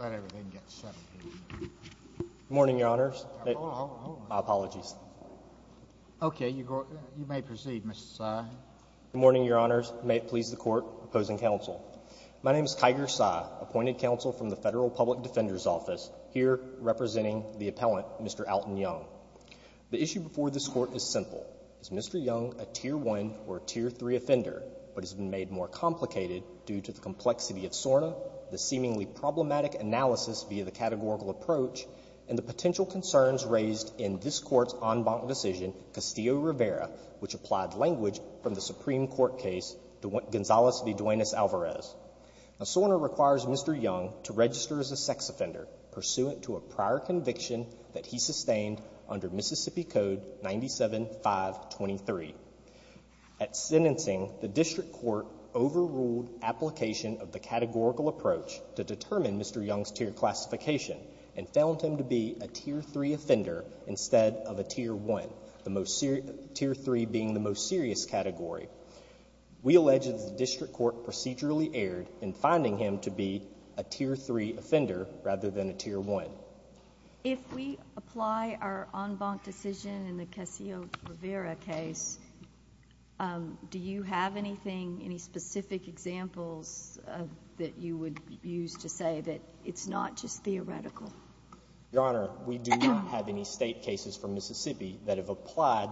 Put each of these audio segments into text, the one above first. Good morning, your honors. May it please the Court, opposing counsel. My name is Kiger Sy, appointed counsel from the Federal Public Defender's Office, here representing the appellant, Mr. Alton Young. The issue before this Court is simple. Is Mr. Young a Tier 1 or Tier 3 offender, but has been made more complicated due to the complexity of SORNA, the seemingly problematic analysis via the categorical approach, and the potential concerns raised in this Court's en banc decision, Castillo-Rivera, which applied language from the Supreme Court case Gonzales v. Duenas-Alvarez. SORNA requires Mr. Young to register as a sex offender pursuant to a prior conviction that he sustained under Mississippi Code 97-523. At sentencing, the District Court overruled application of the categorical approach to a Tier 3 offender instead of a Tier 1, Tier 3 being the most serious category. We allege that the District Court procedurally erred in finding him to be a Tier 3 offender rather than a Tier 1. If we apply our en banc decision in the Castillo-Rivera case, do you have anything, any specific examples that you would use to say that it's not just theoretical? Your Honor, we do not have any State cases from Mississippi that have applied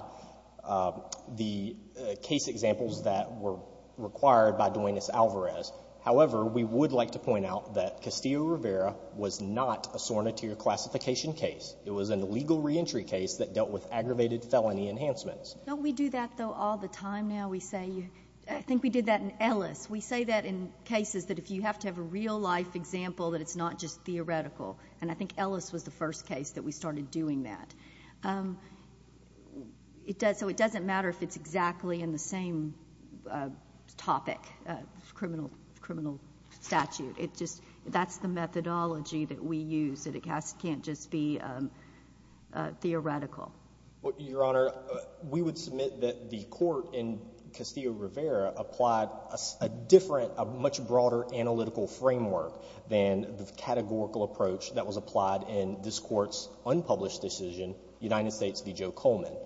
the case examples that were required by Duenas-Alvarez. However, we would like to point out that Castillo-Rivera was not a SORNA Tier classification case. It was an illegal reentry case that dealt with aggravated felony enhancements. Don't we do that, though, all the time now? We say — I think we did that in Ellis. We say that in cases that if you have to have a real-life example that it's not just theoretical. And I think Ellis was the first case that we started doing that. It doesn't matter if it's exactly in the same topic, criminal statute. That's the methodology that we use, that it can't just be theoretical. Your Honor, we would submit that the court in Castillo-Rivera applied a different, a different categorical approach that was applied in this Court's unpublished decision, United States v. Joe Coleman.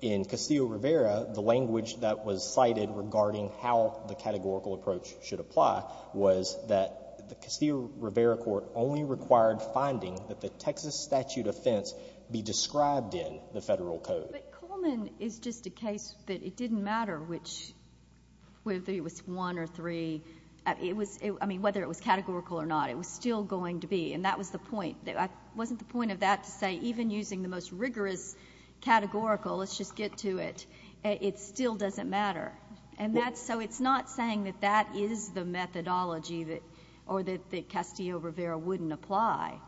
In Castillo-Rivera, the language that was cited regarding how the categorical approach should apply was that the Castillo-Rivera Court only required finding that the Texas statute offense be described in the Federal Code. But Coleman is just a case that it didn't matter which — whether it was one or three — it was — I mean, whether it was categorical or not. It was still going to be. And that was the point. It wasn't the point of that to say even using the most rigorous categorical, let's just get to it, it still doesn't matter. And that's — so it's not saying that that is the methodology that — or that Castillo-Rivera wouldn't apply.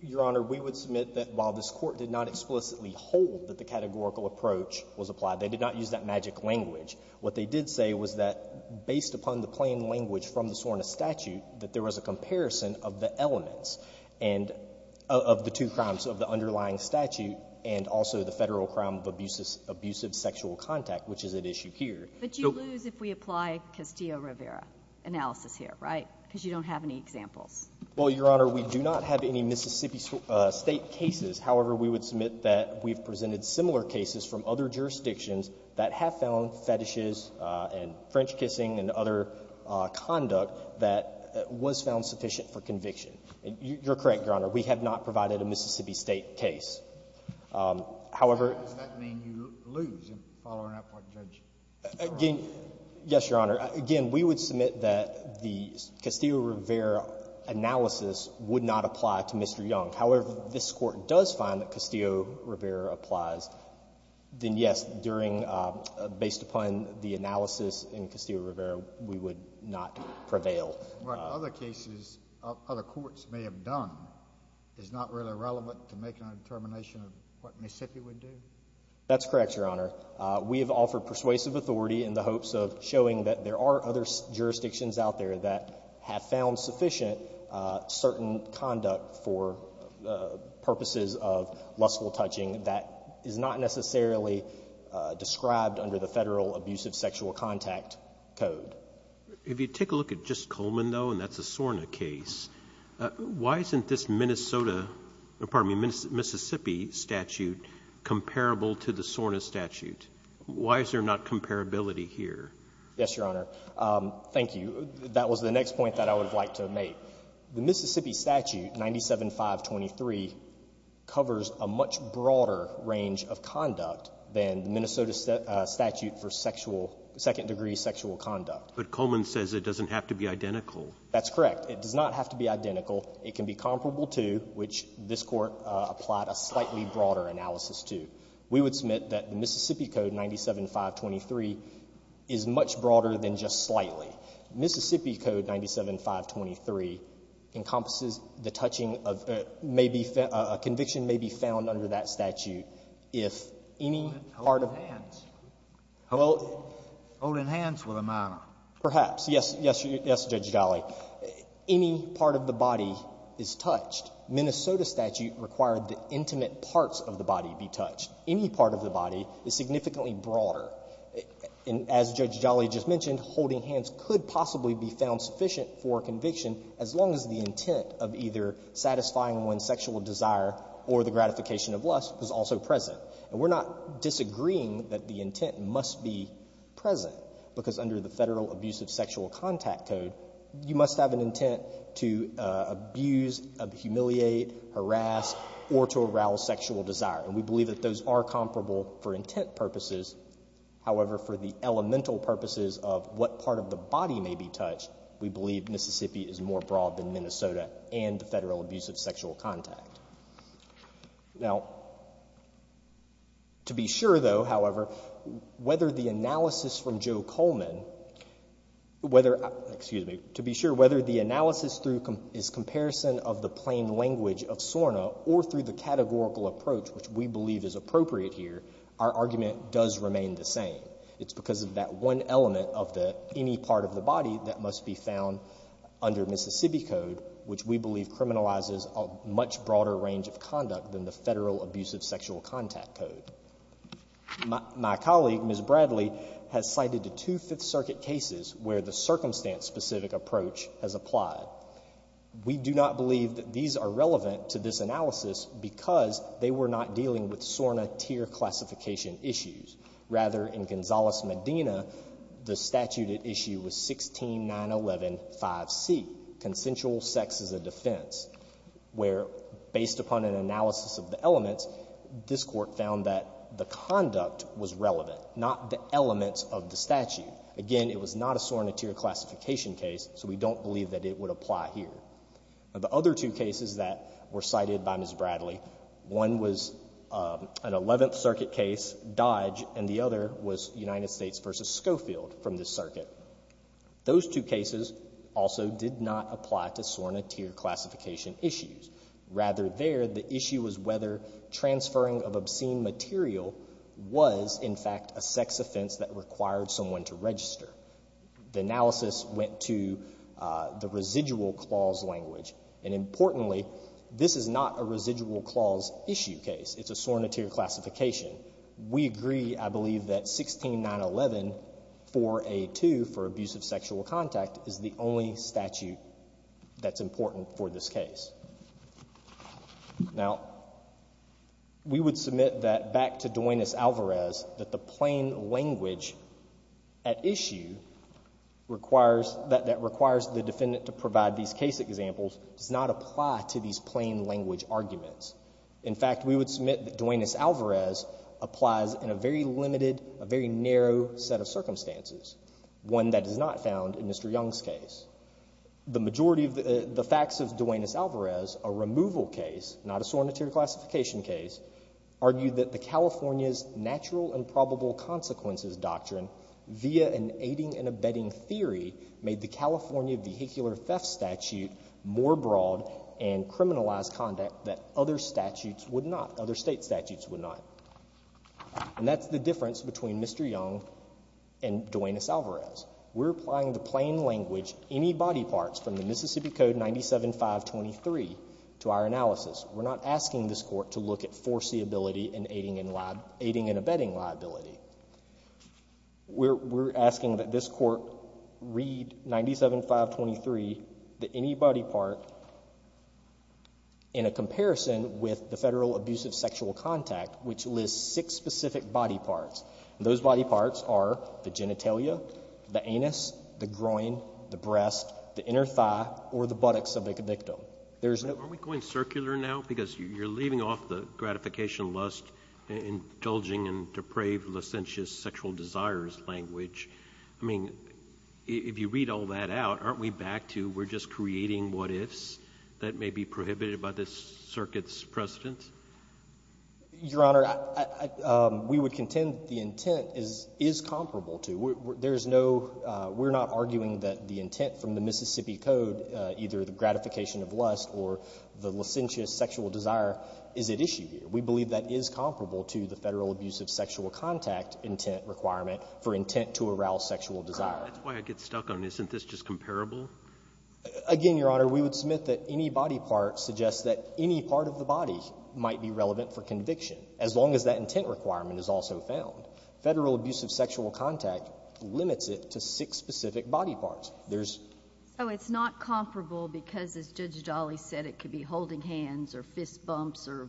Your Honor, we would submit that while this Court did not explicitly hold that the categorical approach was applied, they did not use that magic language, what they did say was that there was a comparison of the elements and — of the two crimes of the underlying statute and also the Federal crime of abusive sexual contact, which is at issue here. So — But you lose if we apply Castillo-Rivera analysis here, right, because you don't have any examples. Well, Your Honor, we do not have any Mississippi State cases. However, we would submit that we've presented similar cases from other jurisdictions that have found fetishes and French kissing and other conduct that was found sufficient for conviction. You're correct, Your Honor. We have not provided a Mississippi State case. However — Does that mean you lose in following up what Judge Farrell said? Yes, Your Honor. Again, we would submit that the Castillo-Rivera analysis would not apply to Mr. Young. However, if this Court does find that Castillo-Rivera applies, then yes, during — based upon the analysis in Castillo-Rivera, we would not prevail. What other cases other courts may have done is not really relevant to making a determination of what Mississippi would do? That's correct, Your Honor. We have offered persuasive authority in the hopes of showing that there are other jurisdictions out there that have found sufficient certain conduct for purposes of lustful touching that is not necessarily described under the Federal Abusive Sexual Contact Code. If you take a look at just Coleman, though, and that's a SORNA case, why isn't this Minnesota — pardon me, Mississippi statute comparable to the SORNA statute? Why is there not comparability here? Yes, Your Honor. Thank you. That was the next point that I would have liked to make. The Mississippi statute, 97-523, covers a much broader range of conduct than the Minnesota statute for sexual — second-degree sexual conduct. But Coleman says it doesn't have to be identical. That's correct. It does not have to be identical. It can be comparable to, which this Court applied a slightly broader analysis to. We would submit that the Mississippi Code, 97-523, is much broader than just slightly. Mississippi Code, 97-523, encompasses the touching of — may be — a conviction may be found under that statute if any part of — Holding hands. Well — Holding hands with a minor. Perhaps. Yes. Yes, Judge Galley. Any part of the body is touched. Minnesota statute required the intimate parts of the body be touched. Any part of the body is significantly broader. As Judge Galley just mentioned, holding hands could possibly be found sufficient for a conviction as long as the intent of either satisfying one's sexual desire or the gratification of lust was also present. And we're not disagreeing that the intent must be present, because under the Federal Abusive Sexual Contact Code, you must have an intent to abuse, humiliate, harass, or to arouse sexual desire. And we believe that those are comparable for intent purposes. However, for the elemental purposes of what part of the body may be touched, we believe Mississippi is more broad than Minnesota and the Federal Abusive Sexual Contact. Now, to be sure, though, however, whether the analysis from Joe Coleman — whether — excuse me — to be sure whether the analysis through his comparison of the plain language of SORNA or through the categorical approach, which we believe is appropriate here, our argument does remain the same. It's because of that one element of the — any part of the body that must be found under Mississippi Code, which we believe criminalizes a much broader range of conduct than the Federal Abusive Sexual Contact Code. My colleague, Ms. Bradley, has cited the two Fifth Circuit cases where the circumstance-specific approach has applied. We do not believe that these are relevant to this analysis because they were not dealing with SORNA tier classification issues. Rather, in Gonzales-Medina, the statute at issue was 16-911-5C, consensual sex as a defense, where based upon an analysis of the elements, this Court found that the conduct was relevant, not the elements of the statute. Again, it was not a SORNA tier classification case, so we don't believe that it would apply here. Now, the other two cases that were cited by Ms. Bradley, one was an Eleventh Circuit case, Dodge, and the other was United States v. Schofield from this circuit. Those two cases also did not apply to SORNA tier classification issues. Rather, there, the issue was whether transferring of obscene material was, in fact, a sex offense that required someone to register. The analysis went to the residual clause language. And importantly, this is not a residual clause issue case. It's a SORNA tier classification. We agree, I believe, that 16-911-4A2 for abusive sexual contact is the only statute that's important for this case. Now, we would submit that, back to Duenas-Alvarez, that the plain language at issue that requires the defendant to provide these case examples does not apply to these plain language arguments. In fact, we would submit that Duenas-Alvarez applies in a very limited, a very narrow set of circumstances, one that is not found in Mr. Young's case. The majority of the facts of Duenas-Alvarez, a removal case, not a SORNA tier classification case, argue that the California's natural and probable consequences doctrine, via an aiding and abetting theory, made the California vehicular theft statute more broad and criminalized conduct that other statutes would not, other state statutes would not. And that's the difference between Mr. Young and Duenas-Alvarez. We're applying the plain language, any body parts, from the Mississippi Code 97-523 to our analysis. We're not asking this court to look at foreseeability and aiding and abetting liability. We're, we're asking that this court read 97-523, the any body part, in a comparison with the federal abusive sexual contact, which lists six specific body parts. Those body parts are the genitalia, the anus, the groin, the breast, the inner thigh, or the buttocks of a victim. There's no- Are we going circular now? Because you're leaving off the gratification, lust, indulging, and depraved licentious sexual desires language. I mean, if you read all that out, aren't we back to we're just creating what ifs that may be prohibited by this circuit's precedent? Your Honor, I, I, we would contend the intent is, is comparable to. There's no, we're not arguing that the intent from the Mississippi Code, either the gratification of lust or the licentious sexual desire, is at issue here. We believe that is comparable to the federal abusive sexual contact intent requirement for intent to arouse sexual desire. That's why I get stuck on, isn't this just comparable? Again, Your Honor, we would submit that any body part suggests that any part of the body might be relevant for conviction, as long as that intent requirement is also found. Federal abusive sexual contact limits it to six specific body parts. There's- So, it's not comparable because, as Judge Dali said, it could be holding hands or fist bumps or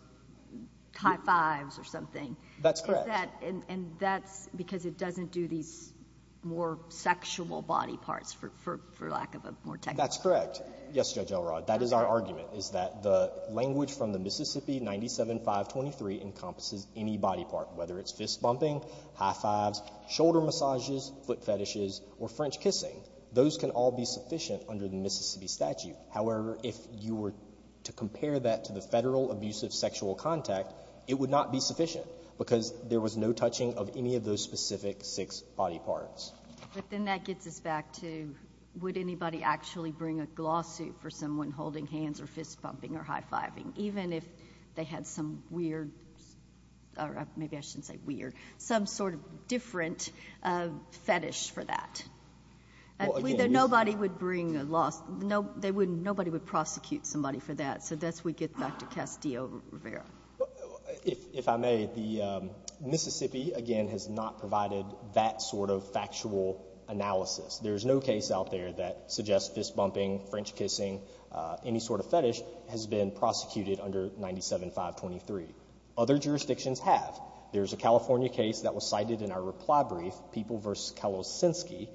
high fives or something. That's correct. And that's because it doesn't do these more sexual body parts for, for, for lack of a more technical- That's correct. Yes, Judge Elrod. That is our argument, is that the language from the Mississippi 97-523 encompasses any body part, whether it's fist bumping, high fives, shoulder massages, foot fetishes, or French kissing. Those can all be sufficient under the Mississippi statute. However, if you were to compare that to the federal abusive sexual contact, it would not be sufficient because there was no touching of any of those specific six body parts. But then that gets us back to, would anybody actually bring a lawsuit for someone holding hands or fist bumping or high fiving, even if they had some weird, or maybe I shouldn't say weird, some sort of different fetish for that? Nobody would bring a lawsuit, no, they wouldn't, nobody would prosecute somebody for that. So that's, we get back to Castillo-Rivera. If, if I may, the Mississippi, again, has not provided that sort of factual analysis. There's no case out there that suggests fist bumping, French kissing, any sort of fetish has been prosecuted under 97-523. Other jurisdictions have. There's a California case that was cited in our reply brief, People v. Kalosinski,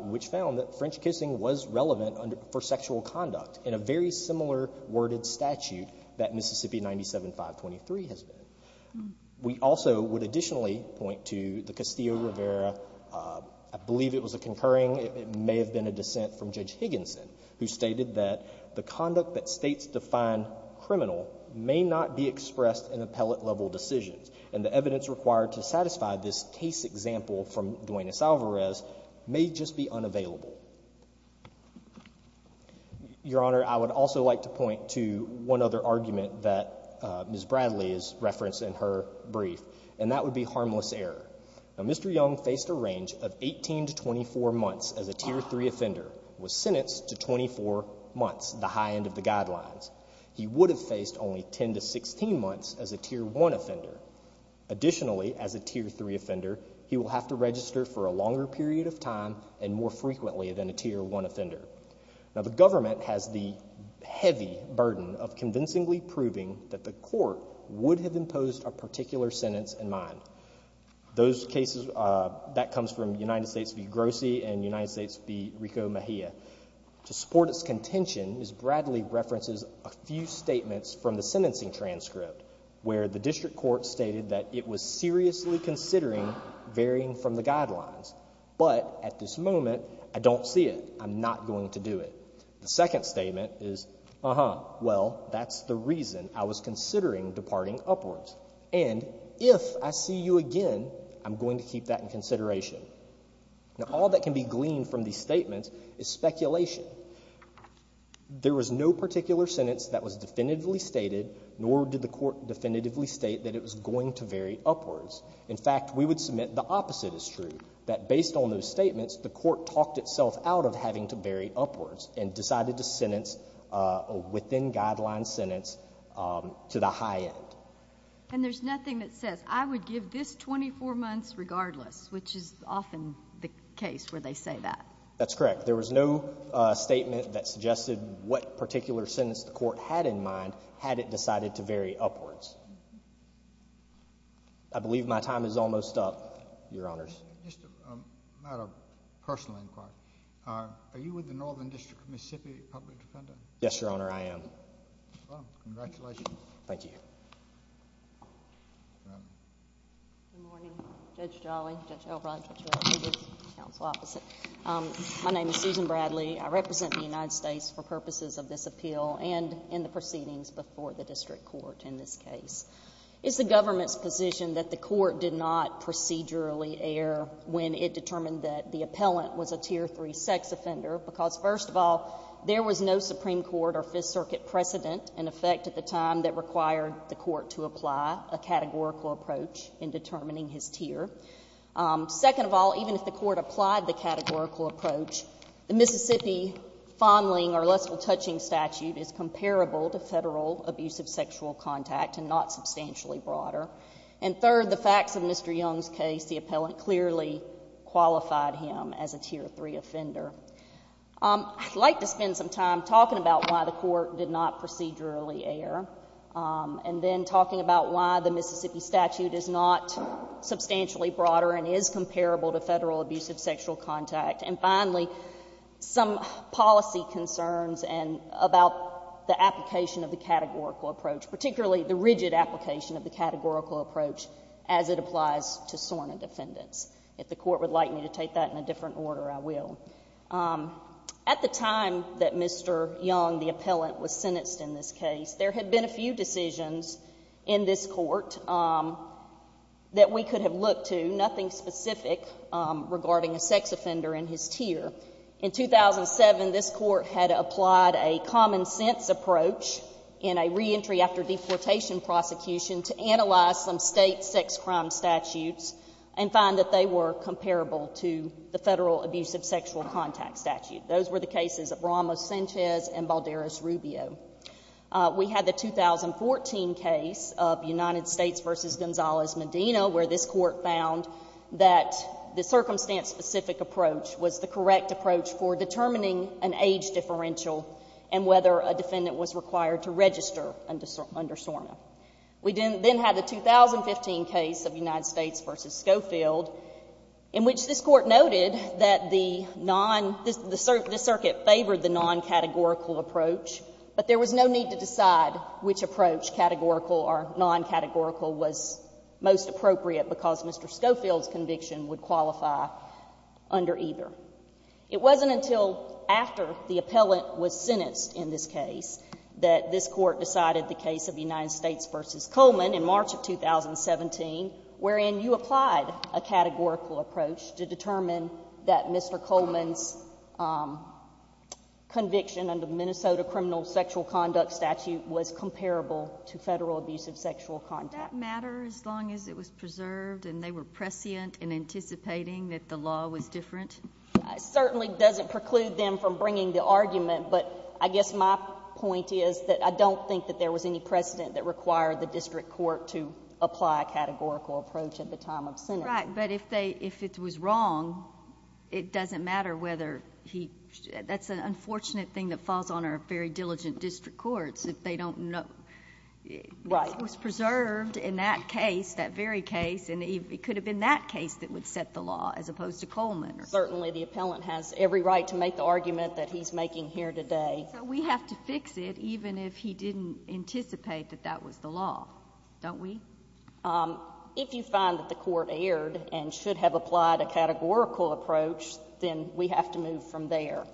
which found that French kissing was relevant for sexual conduct in a very similar worded statute that Mississippi 97-523 has been. We also would additionally point to the Castillo-Rivera, I believe it was a concurring, it may have been a dissent from Judge Higginson, who stated that the conduct that States define criminal may not be expressed in appellate level decisions. And the evidence required to satisfy this case example from Duane S. Alvarez may just be unavailable. Your Honor, I would also like to point to one other argument that Ms. Bradley has referenced in her brief, and that would be harmless error. Now, Mr. Young faced a range of 18 to 24 months as a Tier 3 offender, was sentenced to 24 months, the high end of the guidelines. He would have faced only 10 to 16 months as a Tier 1 offender. Additionally, as a Tier 3 offender, he will have to register for a longer period of time and more frequently than a Tier 1 offender. Now, the government has the heavy burden of convincingly proving that the court would have imposed a particular sentence in mind. Those cases, that comes from United States v. Grossi and United States v. Rico Mejia. To support its contention, Ms. Bradley references a few statements from the sentencing transcript where the district court stated that it was seriously considering varying from the guidelines, but at this moment, I don't see it. I'm not going to do it. The second statement is, uh-huh, well, that's the reason I was considering departing upwards, and if I see you again, I'm going to keep that in consideration. Now, all that can be gleaned from these statements is speculation. There was no particular sentence that was definitively stated, nor did the court definitively state that it was going to vary upwards. In fact, we would submit the opposite is true, that based on those statements, the court talked itself out of having to vary upwards and decided to sentence a within-guideline sentence to the high end. And there's nothing that says, I would give this 24 months regardless, which is often the case where they say that. That's correct. There was no statement that suggested what particular sentence the court had in mind had it decided to vary upwards. I believe my time is almost up, Your Honors. Just a matter of personal inquiry, are you with the Northern District of Mississippi Public Defender? Yes, Your Honor, I am. Well, congratulations. Thank you. Good morning. Judge Jolly, Judge Elrod, Judge Rowley, and the counsel opposite. My name is Susan Bradley. I represent the United States for purposes of this appeal and in the proceedings before the District Court in this case. It's the government's position that the court did not procedurally err when it determined that the appellant was a Tier 3 sex offender because, first of all, there was no Supreme Court or Fifth Circuit precedent in effect at the time that required the court to apply a categorical approach in determining his tier. Second of all, even if the court applied the categorical approach, the Mississippi fondling or lestal touching statute is comparable to federal abusive sexual contact and not substantially broader. And third, the facts of Mr. Young's case, the appellant clearly qualified him as a Tier 3 offender. I'd like to spend some time talking about why the court did not procedurally err and then talking about why the Mississippi statute is not substantially broader and is comparable to federal abusive sexual contact. And finally, some policy concerns about the application of the categorical approach, particularly the rigid application of the categorical approach as it applies to SORNA defendants. If the court would like me to take that in a different order, I will. At the time that Mr. Young, the appellant, was sentenced in this case, there had been a few decisions in this court that we could have looked to, nothing specific regarding a sex offender and his tier. In 2007, this court had applied a common sense approach in a reentry after deportation prosecution to analyze some state sex crime statutes and find that they were comparable to the federal abusive sexual contact statute. Those were the cases of Ramos-Sanchez and Balderas-Rubio. We had the 2014 case of United States v. Gonzalez-Medina, where this court found that the circumstance specific approach was the correct approach for determining an age differential and whether a defendant was required to register under SORNA. We then had the 2015 case of United States v. Schofield, in which this court noted that the non — the circuit favored the non-categorical approach, but there was no need to decide which approach, categorical or non-categorical, was most appropriate because Mr. Schofield's conviction would qualify under either. It wasn't until after the appellant was sentenced in this case that this court decided the case of United States v. Coleman in March of 2017, wherein you applied a categorical approach to determine that Mr. Coleman's conviction under the Minnesota criminal sexual conduct statute was comparable to federal abusive sexual contact. Does that matter as long as it was preserved and they were prescient in anticipating that the law was different? It certainly doesn't preclude them from bringing the argument, but I guess my point is that I don't think that there was any precedent that required the district court to apply a categorical approach at the time of sentence. Right. But if they — if it was wrong, it doesn't matter whether he — that's an unfortunate thing that falls on our very diligent district courts, if they don't know — Right. If the court was preserved in that case, that very case, it could have been that case that would set the law as opposed to Coleman. Certainly, the appellant has every right to make the argument that he's making here today. So we have to fix it even if he didn't anticipate that that was the law, don't we? If you find that the court erred and should have applied a categorical approach, then we have to move from there.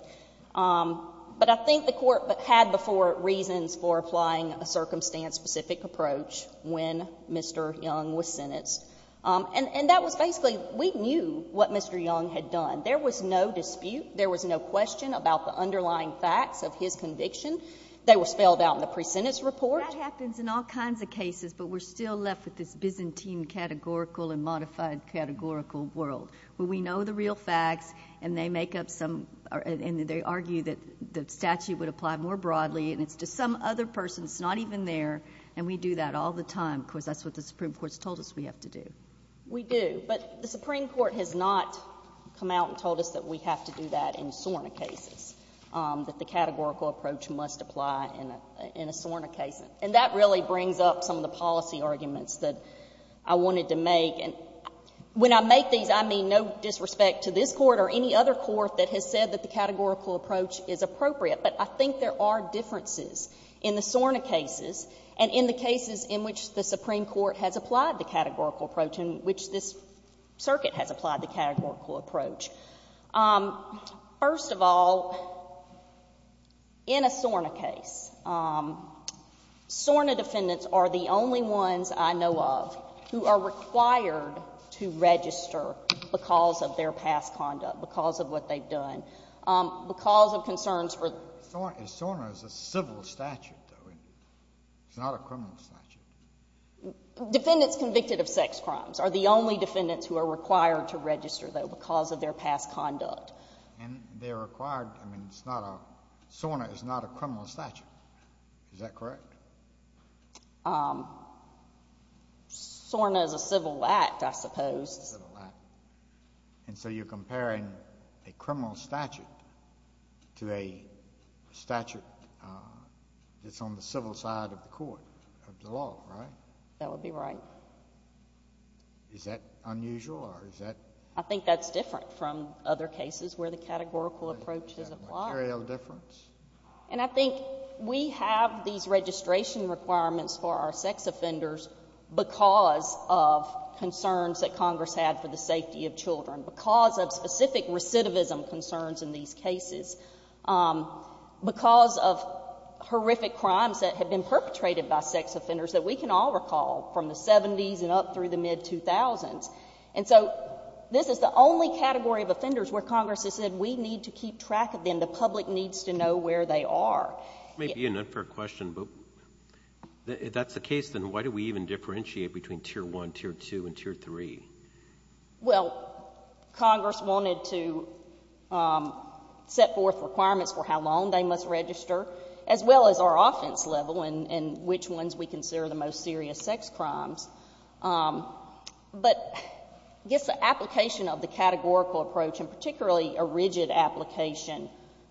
But I think the court had before reasons for applying a circumstance-specific approach when Mr. Young was sentenced. And that was basically — we knew what Mr. Young had done. There was no dispute. There was no question about the underlying facts of his conviction. They were spelled out in the presentence report. That happens in all kinds of cases, but we're still left with this Byzantine categorical and modified categorical world, where we know the real facts and they make up some — and they argue that the statute would apply more broadly, and it's to some other person. It's not even there. And we do that all the time, because that's what the Supreme Court has told us we have to do. We do. But the Supreme Court has not come out and told us that we have to do that in SORNA cases, that the categorical approach must apply in a SORNA case. And that really brings up some of the policy arguments that I wanted to make. And when I make these, I mean no disrespect to this Court or any other court that has said that the categorical approach is appropriate, but I think there are differences in the SORNA cases and in the cases in which the Supreme Court has applied the categorical approach and which this Circuit has applied the categorical approach. First of all, in a SORNA case, SORNA defendants are the only ones I know of who are required to register because of their past conduct, because of what they've done, because of concerns for... SORNA is a civil statute, though, it's not a criminal statute. Defendants convicted of sex crimes are the only defendants who are required to register, though, because of their past conduct. And they're required, I mean it's not a... SORNA is not a criminal statute. Is that correct? SORNA is a civil act, I suppose. And so you're comparing a criminal statute to a statute that's on the civil side of the Court, of the law, right? That would be right. Is that unusual or is that... I think that's different from other cases where the categorical approach is applied. Is that a material difference? And I think we have these registration requirements for our sex offenders because of concerns that Congress had for the safety of children, because of specific recidivism concerns in these cases, because of horrific crimes that have been perpetrated by sex offenders that we can all recall from the 70s and up through the mid-2000s. And so this is the only category of offenders where Congress has said we need to keep track of them. And the public needs to know where they are. It may be an unfair question, but if that's the case, then why do we even differentiate between Tier 1, Tier 2, and Tier 3? Well, Congress wanted to set forth requirements for how long they must register, as well as our offense level and which ones we consider the most serious sex crimes. But I guess the application of the categorical approach, and particularly a rigid application,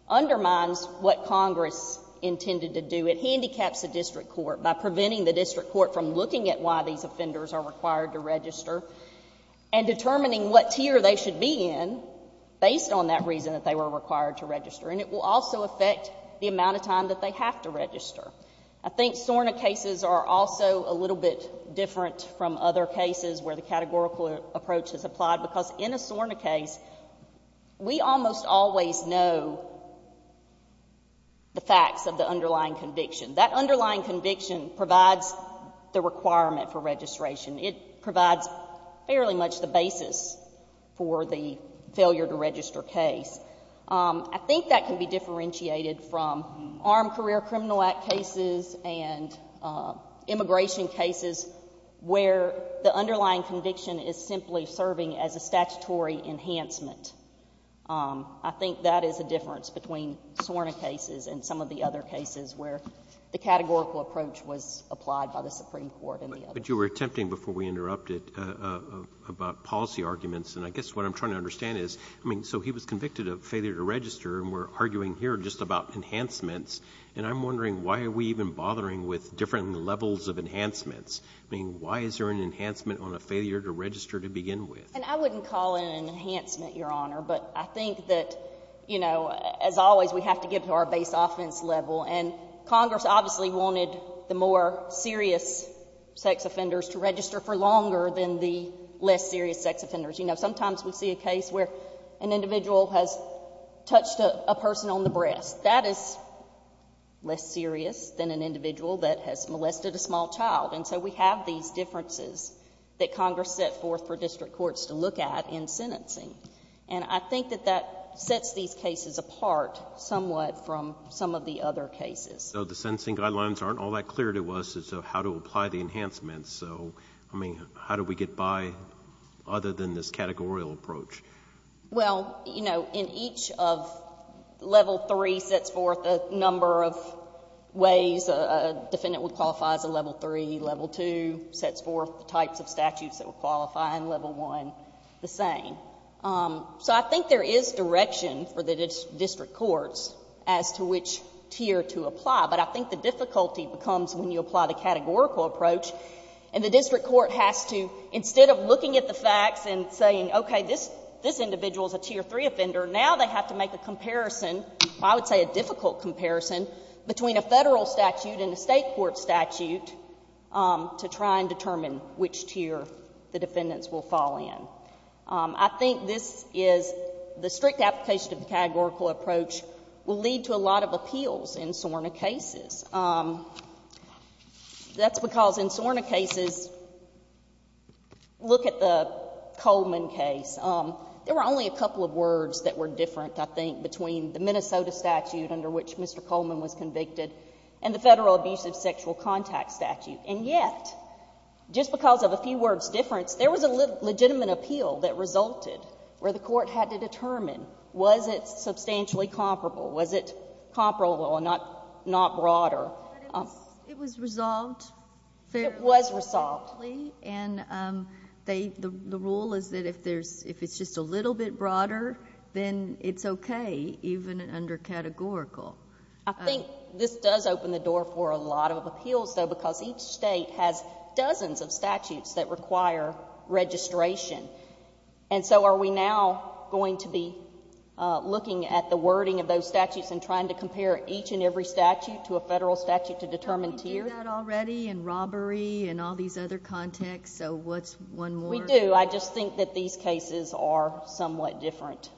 undermines what Congress intended to do. It handicaps the district court by preventing the district court from looking at why these offenders are required to register and determining what tier they should be in based on that reason that they were required to register. And it will also affect the amount of time that they have to register. I think SORNA cases are also a little bit different from other cases where the categorical approach is applied, because in a SORNA case, we almost always know the facts of the underlying conviction. That underlying conviction provides the requirement for registration. It provides fairly much the basis for the failure to register case. I think that can be differentiated from Armed Career Criminal Act cases and immigration cases where the underlying conviction is simply serving as a statutory enhancement. I think that is the difference between SORNA cases and some of the other cases where the categorical approach was applied by the Supreme Court and the others. But you were attempting, before we interrupted, about policy arguments. And I guess what I'm trying to understand is, I mean, so he was convicted of failure to register, and we're arguing here just about enhancements. And I'm wondering, why are we even bothering with different levels of enhancements? I mean, why is there an enhancement on a failure to register to begin with? And I wouldn't call it an enhancement, Your Honor. But I think that, you know, as always, we have to get to our base offense level. And Congress obviously wanted the more serious sex offenders to register for longer than the less serious sex offenders. You know, sometimes we see a case where an individual has touched a person on the breast. That is less serious than an individual that has molested a small child. And so we have these differences that Congress set forth for district courts to look at in sentencing. And I think that that sets these cases apart somewhat from some of the other cases. So the sentencing guidelines aren't all that clear to us as to how to apply the enhancements. So, I mean, how do we get by other than this categorical approach? Well, you know, in each of level three sets forth a number of ways a defendant would qualify as a level three. Level two sets forth the types of statutes that would qualify, and level one the same. So I think there is direction for the district courts as to which tier to apply, but I think the difficulty becomes when you apply the categorical approach, and the district court has to, instead of looking at the facts and saying, okay, this individual is a tier three offender, now they have to make a comparison, I would say a difficult comparison, between a Federal statute and a State court statute to try and determine which tier the defendants will fall in. I think this is the strict application of the categorical approach will lead to a lot of appeals in SORNA cases. That's because in SORNA cases, look at the Coleman case, there were only a couple of words that were different, I think, between the Minnesota statute under which Mr. Coleman was convicted and the Federal abusive sexual contact statute. And yet, just because of a few words difference, there was a legitimate appeal that resulted where the court had to determine, was it substantially comparable, was it comparable and not broader. But it was resolved fairly quickly, and the rule is that if it's just a little bit broader, then it's okay, even under categorical. I think this does open the door for a lot of appeals, though, because each State has dozens of statutes that require registration. And so are we now going to be looking at the wording of those statutes and trying to compare each and every statute to a Federal statute to determine tiers? Have we done that already in robbery and all these other contexts? So what's one more? We do. I just think that these cases are somewhat different,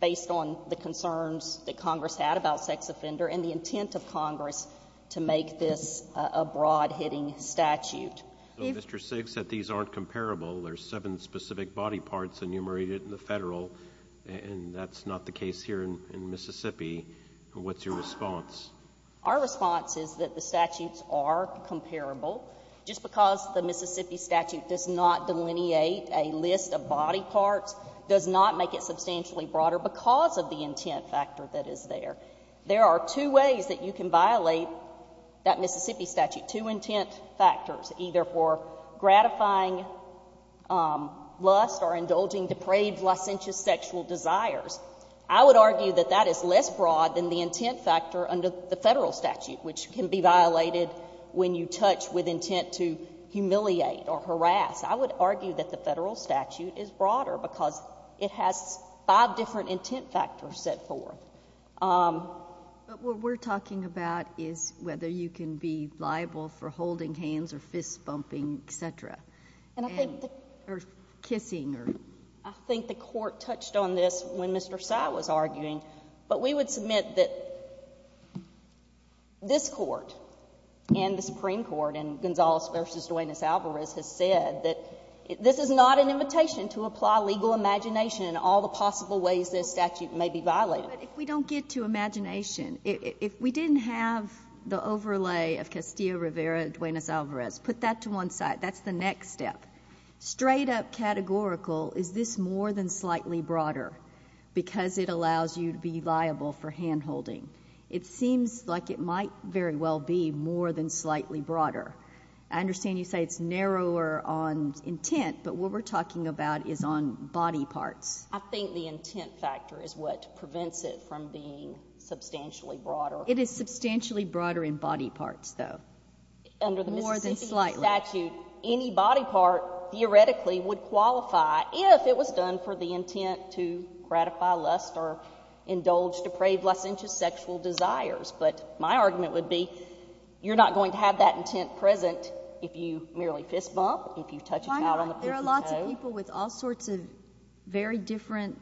based on the concerns that Congress had about sex offender and the intent of Congress to make this a broad-hitting statute. So Mr. Siggs said these aren't comparable. There's seven specific body parts enumerated in the Federal, and that's not the case here in Mississippi. What's your response? Our response is that the statutes are comparable. Just because the Mississippi statute does not delineate a list of body parts does not make it substantially broader because of the intent factor that is there. There are two ways that you can violate that Mississippi statute, two intent factors, either for gratifying lust or indulging depraved licentious sexual desires. I would argue that that is less broad than the intent factor under the Federal statute, which can be violated when you touch with intent to humiliate or harass. I would argue that the Federal statute is broader because it has five different intent factors set forth. But what we're talking about is whether you can be liable for holding hands or fist-bumping, et cetera, and or kissing or — I think the Court touched on this when Mr. Sy was arguing, but we would submit that this Court and the Supreme Court and Gonzales v. Duenas-Alvarez has said that this is not an invitation to apply legal imagination in all the possible ways this statute may be violated. But if we don't get to imagination, if we didn't have the overlay of Castillo-Rivera-Duenas-Alvarez, put that to one side. That's the next step. Straight-up categorical, is this more than slightly broader because it allows you to be liable for hand-holding? It seems like it might very well be more than slightly broader. I understand you say it's narrower on intent, but what we're talking about is on body parts. I think the intent factor is what prevents it from being substantially broader. It is substantially broader in body parts, though, more than slightly. Under the Mississippi statute, any body part theoretically would qualify if it was done for the intent to gratify lust or indulge depraved licentious sexual desires. But my argument would be, you're not going to have that intent present if you merely fist bump, if you touch a child on the pussy-toe. Why not? There are lots of people with all sorts of very different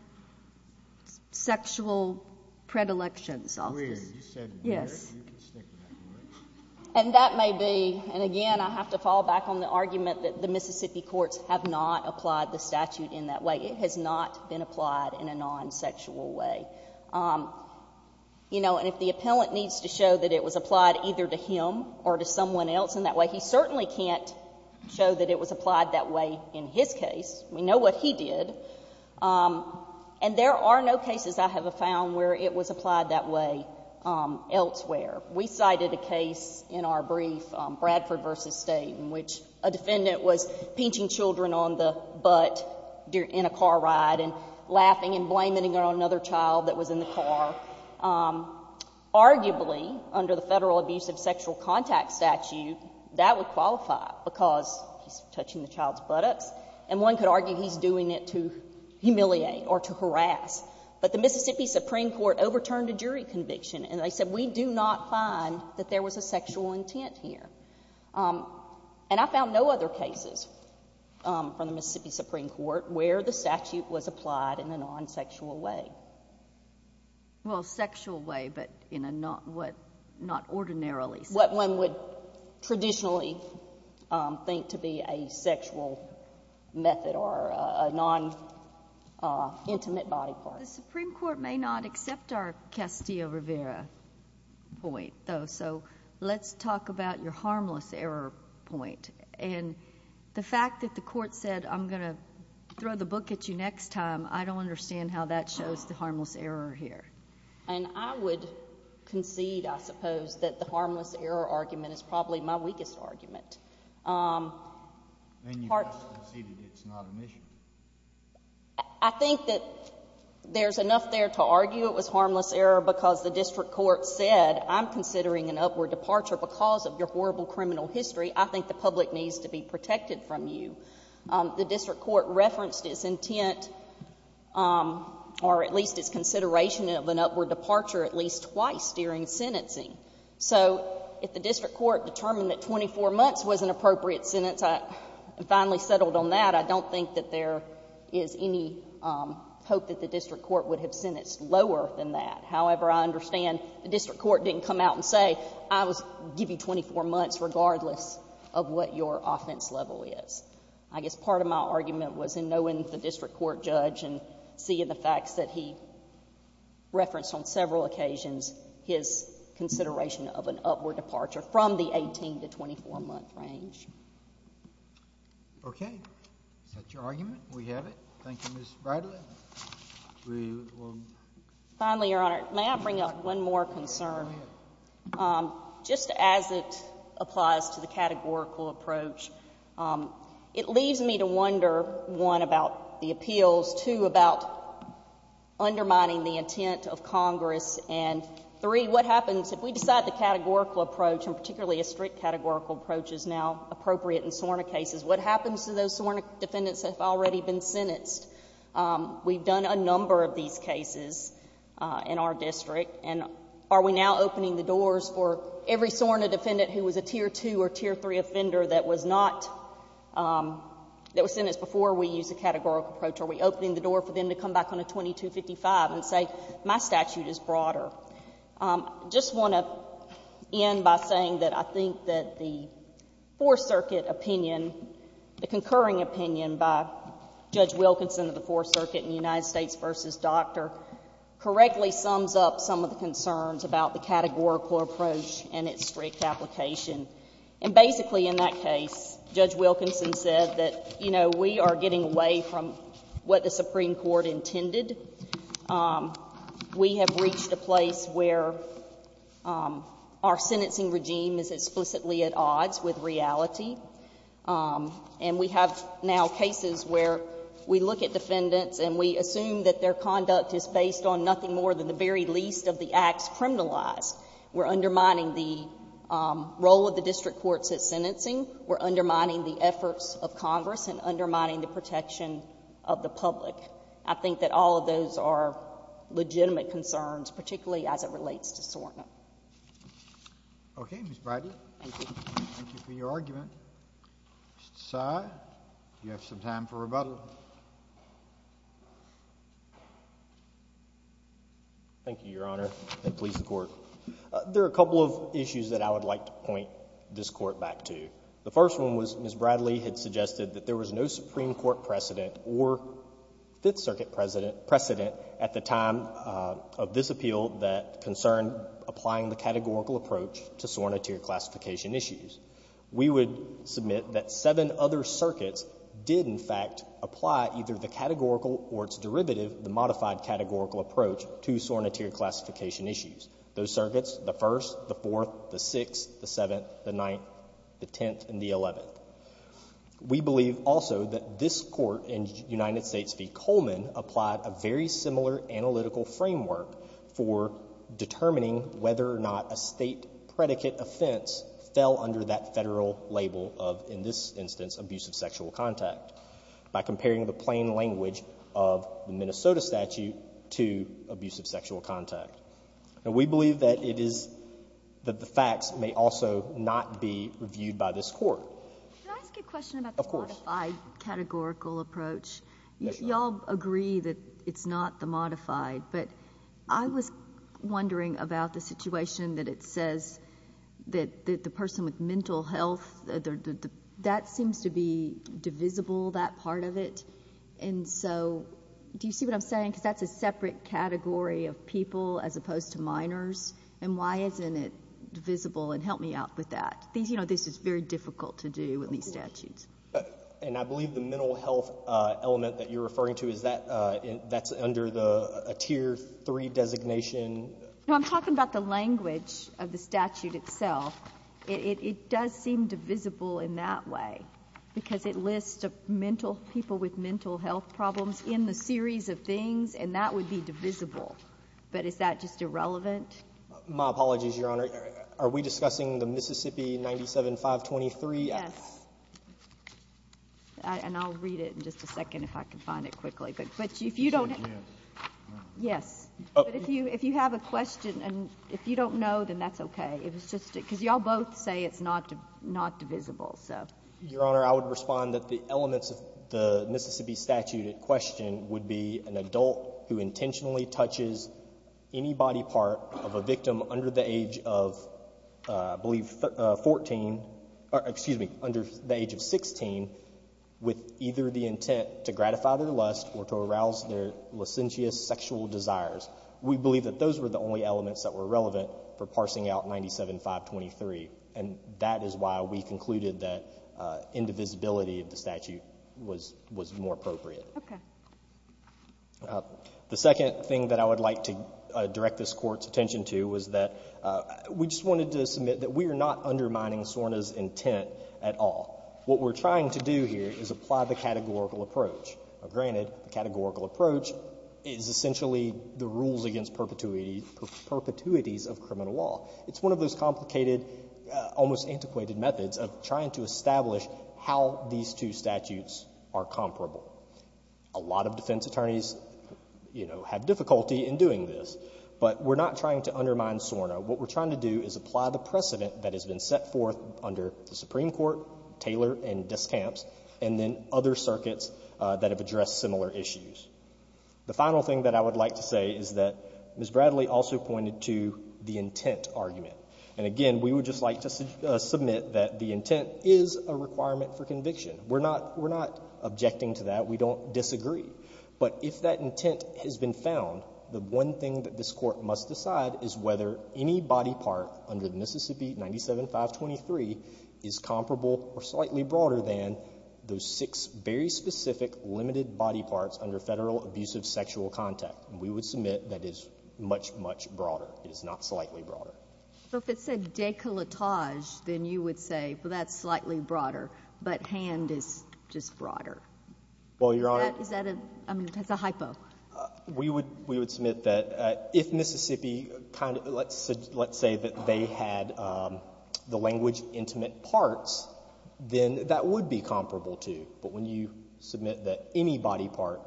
sexual predilections, officers. Weird. You said weird. Yes. You can stick with that. And that may be, and again, I have to fall back on the argument that the Mississippi courts have not applied the statute in that way. It has not been applied in a non-sexual way. You know, and if the appellant needs to show that it was applied either to him or to someone else in that way, he certainly can't show that it was applied that way in his case. We know what he did. And there are no cases I have found where it was applied that way elsewhere. We cited a case in our brief, Bradford v. State, in which a defendant was pinching children on the butt in a car ride and laughing and blaming another child that was in the car. Arguably, under the Federal Abusive Sexual Contact Statute, that would qualify, because he's touching the child's buttocks. And one could argue he's doing it to humiliate or to harass. But the Mississippi Supreme Court overturned a jury conviction, and they said we do not find that there was a sexual intent here. And I found no other cases from the Mississippi Supreme Court where the statute was applied in a non-sexual way. Well, sexual way, but in a not ordinarily sexual way. What one would traditionally think to be a sexual method or a non-intimate body part. The Supreme Court may not accept our Castillo-Rivera point, though, so let's talk about your harmless error point. And the fact that the Court said, I'm going to throw the book at you next time, I don't understand how that shows the harmless error here. And I would concede, I suppose, that the harmless error argument is probably my weakest argument. And you've just conceded it's not an issue. I think that there's enough there to argue it was harmless error because the district court said, I'm considering an upward departure because of your horrible criminal history. I think the public needs to be protected from you. The district court referenced its intent or at least its consideration of an upward departure at least twice during sentencing. So if the district court determined that 24 months was an appropriate sentence, I finally settled on that. I don't think that there is any hope that the district court would have sentenced lower than that. However, I understand the district court didn't come out and say, I will give you 24 months regardless of what your offense level is. I guess part of my argument was in knowing the district court judge and seeing the facts that he referenced on several occasions, his consideration of an upward departure from the 18 to 24-month range. Okay. Is that your argument? We have it. Thank you, Ms. Bradley. Finally, Your Honor, may I bring up one more concern? Just as it applies to the categorical approach, it leaves me to wonder, one, about the appeals, two, about undermining the intent of Congress, and three, what happens if we decide the categorical approach and particularly a strict categorical approach is now appropriate in SORNA cases, what happens to those SORNA defendants that have already been sentenced? We've done a number of these cases in our district, and are we now opening the doors for every SORNA defendant who was a Tier II or Tier III offender that was not... that was sentenced before we used a categorical approach? Are we opening the door for them to come back on a 2255 and say, my statute is broader? I just want to end by saying that I think that the Fourth Circuit opinion, the concurring opinion by Judge Wilkinson of the Fourth Circuit in United States v. Dr. correctly sums up some of the concerns about the categorical approach and its strict application. And basically in that case, Judge Wilkinson said that, you know, we are getting away from what the Supreme Court intended. We have reached a place where our sentencing regime is explicitly at odds with reality. And we have now cases where we look at defendants and we assume that their conduct is based on nothing more than the very least of the acts criminalized. We're undermining the role of the district courts at sentencing. We're undermining the efforts of Congress and undermining the protection of the public. I think that all of those are legitimate concerns, particularly as it relates to Sorna. JUSTICE KENNEDY Okay, Ms. Bradley. MS. BRADLEY Thank you. JUSTICE KENNEDY Thank you for your argument. Mr. Sye, do you have some time for rebuttal? MR. SYE Thank you, Your Honor, and please the Court. There are a couple of issues that I would like to point this Court back to. The first one was Ms. Bradley had suggested that there was no Supreme Court precedent or Fifth Circuit precedent at the time of this appeal that concerned applying the categorical approach to Sorna tier classification issues. We would submit that seven other circuits did, in fact, apply either the categorical or its derivative, the modified categorical approach to Sorna tier classification issues. Those circuits, the 1st, the 4th, the 6th, the 7th, the 9th, the 10th, and the 11th. We believe also that this Court in United States v. Coleman applied a very similar analytical framework for determining whether or not a state predicate offense fell under that federal label of, in this instance, abusive sexual contact by comparing the plain language of the Minnesota statute to abusive sexual contact. Now, we believe that it is, that the facts may also not be reviewed by this Court. BRADLEY Can I ask a question about the modified categorical approach? SYE Of course. MS. BRADLEY You all agree that it's not the modified, but I was wondering about the situation that it says that the person with mental health, that seems to be divisible, that part of it. And so, do you see what I'm saying? Because that's a separate category of people as opposed to minors, and why isn't it divisible? And help me out with that. These, you know, this is very difficult to do with these statutes. BRADLEY And I believe the mental health element that you're referring to, is that, that's under the, a tier 3 designation? MS. BRADLEY No, I'm talking about the language of the statute itself. It does seem divisible in that way, because it lists mental, people with mental health problems in the series of things, and that would be divisible. But is that just irrelevant? BRADLEY My apologies, Your Honor. Are we discussing the Mississippi 97-523? MS. BRADLEY Yes. And I'll read it in just a second, if I can find it quickly. But if you don't have, yes, but if you have a question, and if you don't know, then that's okay. It was just, because you all both say it's not divisible, so. BRADLEY Your Honor, I would respond that the elements of the Mississippi statute at question would be an adult who intentionally touches any body part of a victim under the age of, I believe, 14, or excuse me, under the age of 16, with either the intent to gratify their lust or to arouse their licentious sexual desires. We believe that those were the only elements that were relevant for parsing out 97-523, and that is why we concluded that indivisibility of the statute was more appropriate. MS. BRADLEY Okay. BRADLEY The second thing that I would like to direct this Court's attention to is that we just wanted to submit that we are not undermining Sorna's intent at all. What we're trying to do here is apply the categorical approach. Granted, the categorical approach is essentially the rules against perpetuity, perpetuities of criminal law. It's one of those complicated, almost antiquated methods of trying to establish how these two statutes are comparable. A lot of defense attorneys, you know, have difficulty in doing this, but we're not trying to undermine Sorna. What we're trying to do is apply the precedent that has been set forth under the Supreme Court's circuits that have addressed similar issues. The final thing that I would like to say is that Ms. Bradley also pointed to the intent argument. And again, we would just like to submit that the intent is a requirement for conviction. We're not objecting to that. We don't disagree. But if that intent has been found, the one thing that this Court must decide is whether any body part under the Mississippi 97-523 is comparable or slightly broader than those six very specific limited body parts under federal abusive sexual contact. We would submit that is much, much broader. It is not slightly broader. So if it said décolletage, then you would say, well, that's slightly broader, but hand is just broader. Well, Your Honor— Is that a—I mean, that's a hypo. We would submit that if Mississippi kind of—let's say that they had the language intimate parts, then that would be comparable to. But when you submit that any body part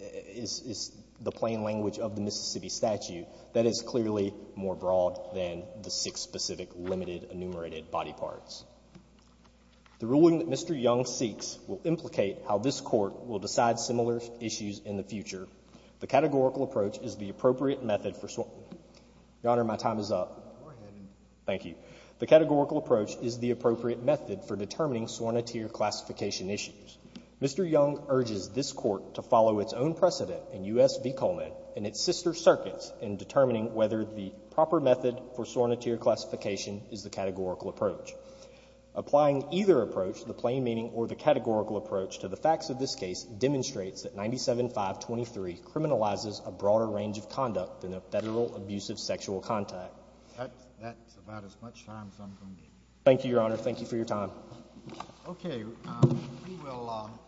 is the plain language of the Mississippi statute, that is clearly more broad than the six specific limited enumerated body parts. The ruling that Mr. Young seeks will implicate how this Court will decide similar issues in the future. The categorical approach is the appropriate method for—Your Honor, my time is up. Go ahead. Thank you. The categorical approach is the appropriate method for determining sworn-to-tier classification issues. Mr. Young urges this Court to follow its own precedent in U.S. v. Coleman and its sister circuits in determining whether the proper method for sworn-to-tier classification is the categorical approach. Applying either approach, the plain meaning or the categorical approach, to the facts of this case demonstrates that 97-523 criminalizes a broader range of conduct than a federal abusive sexual contact. That's about as much time as I'm going to give you. Thank you, Your Honor. Thank you for your time. Okay. We will—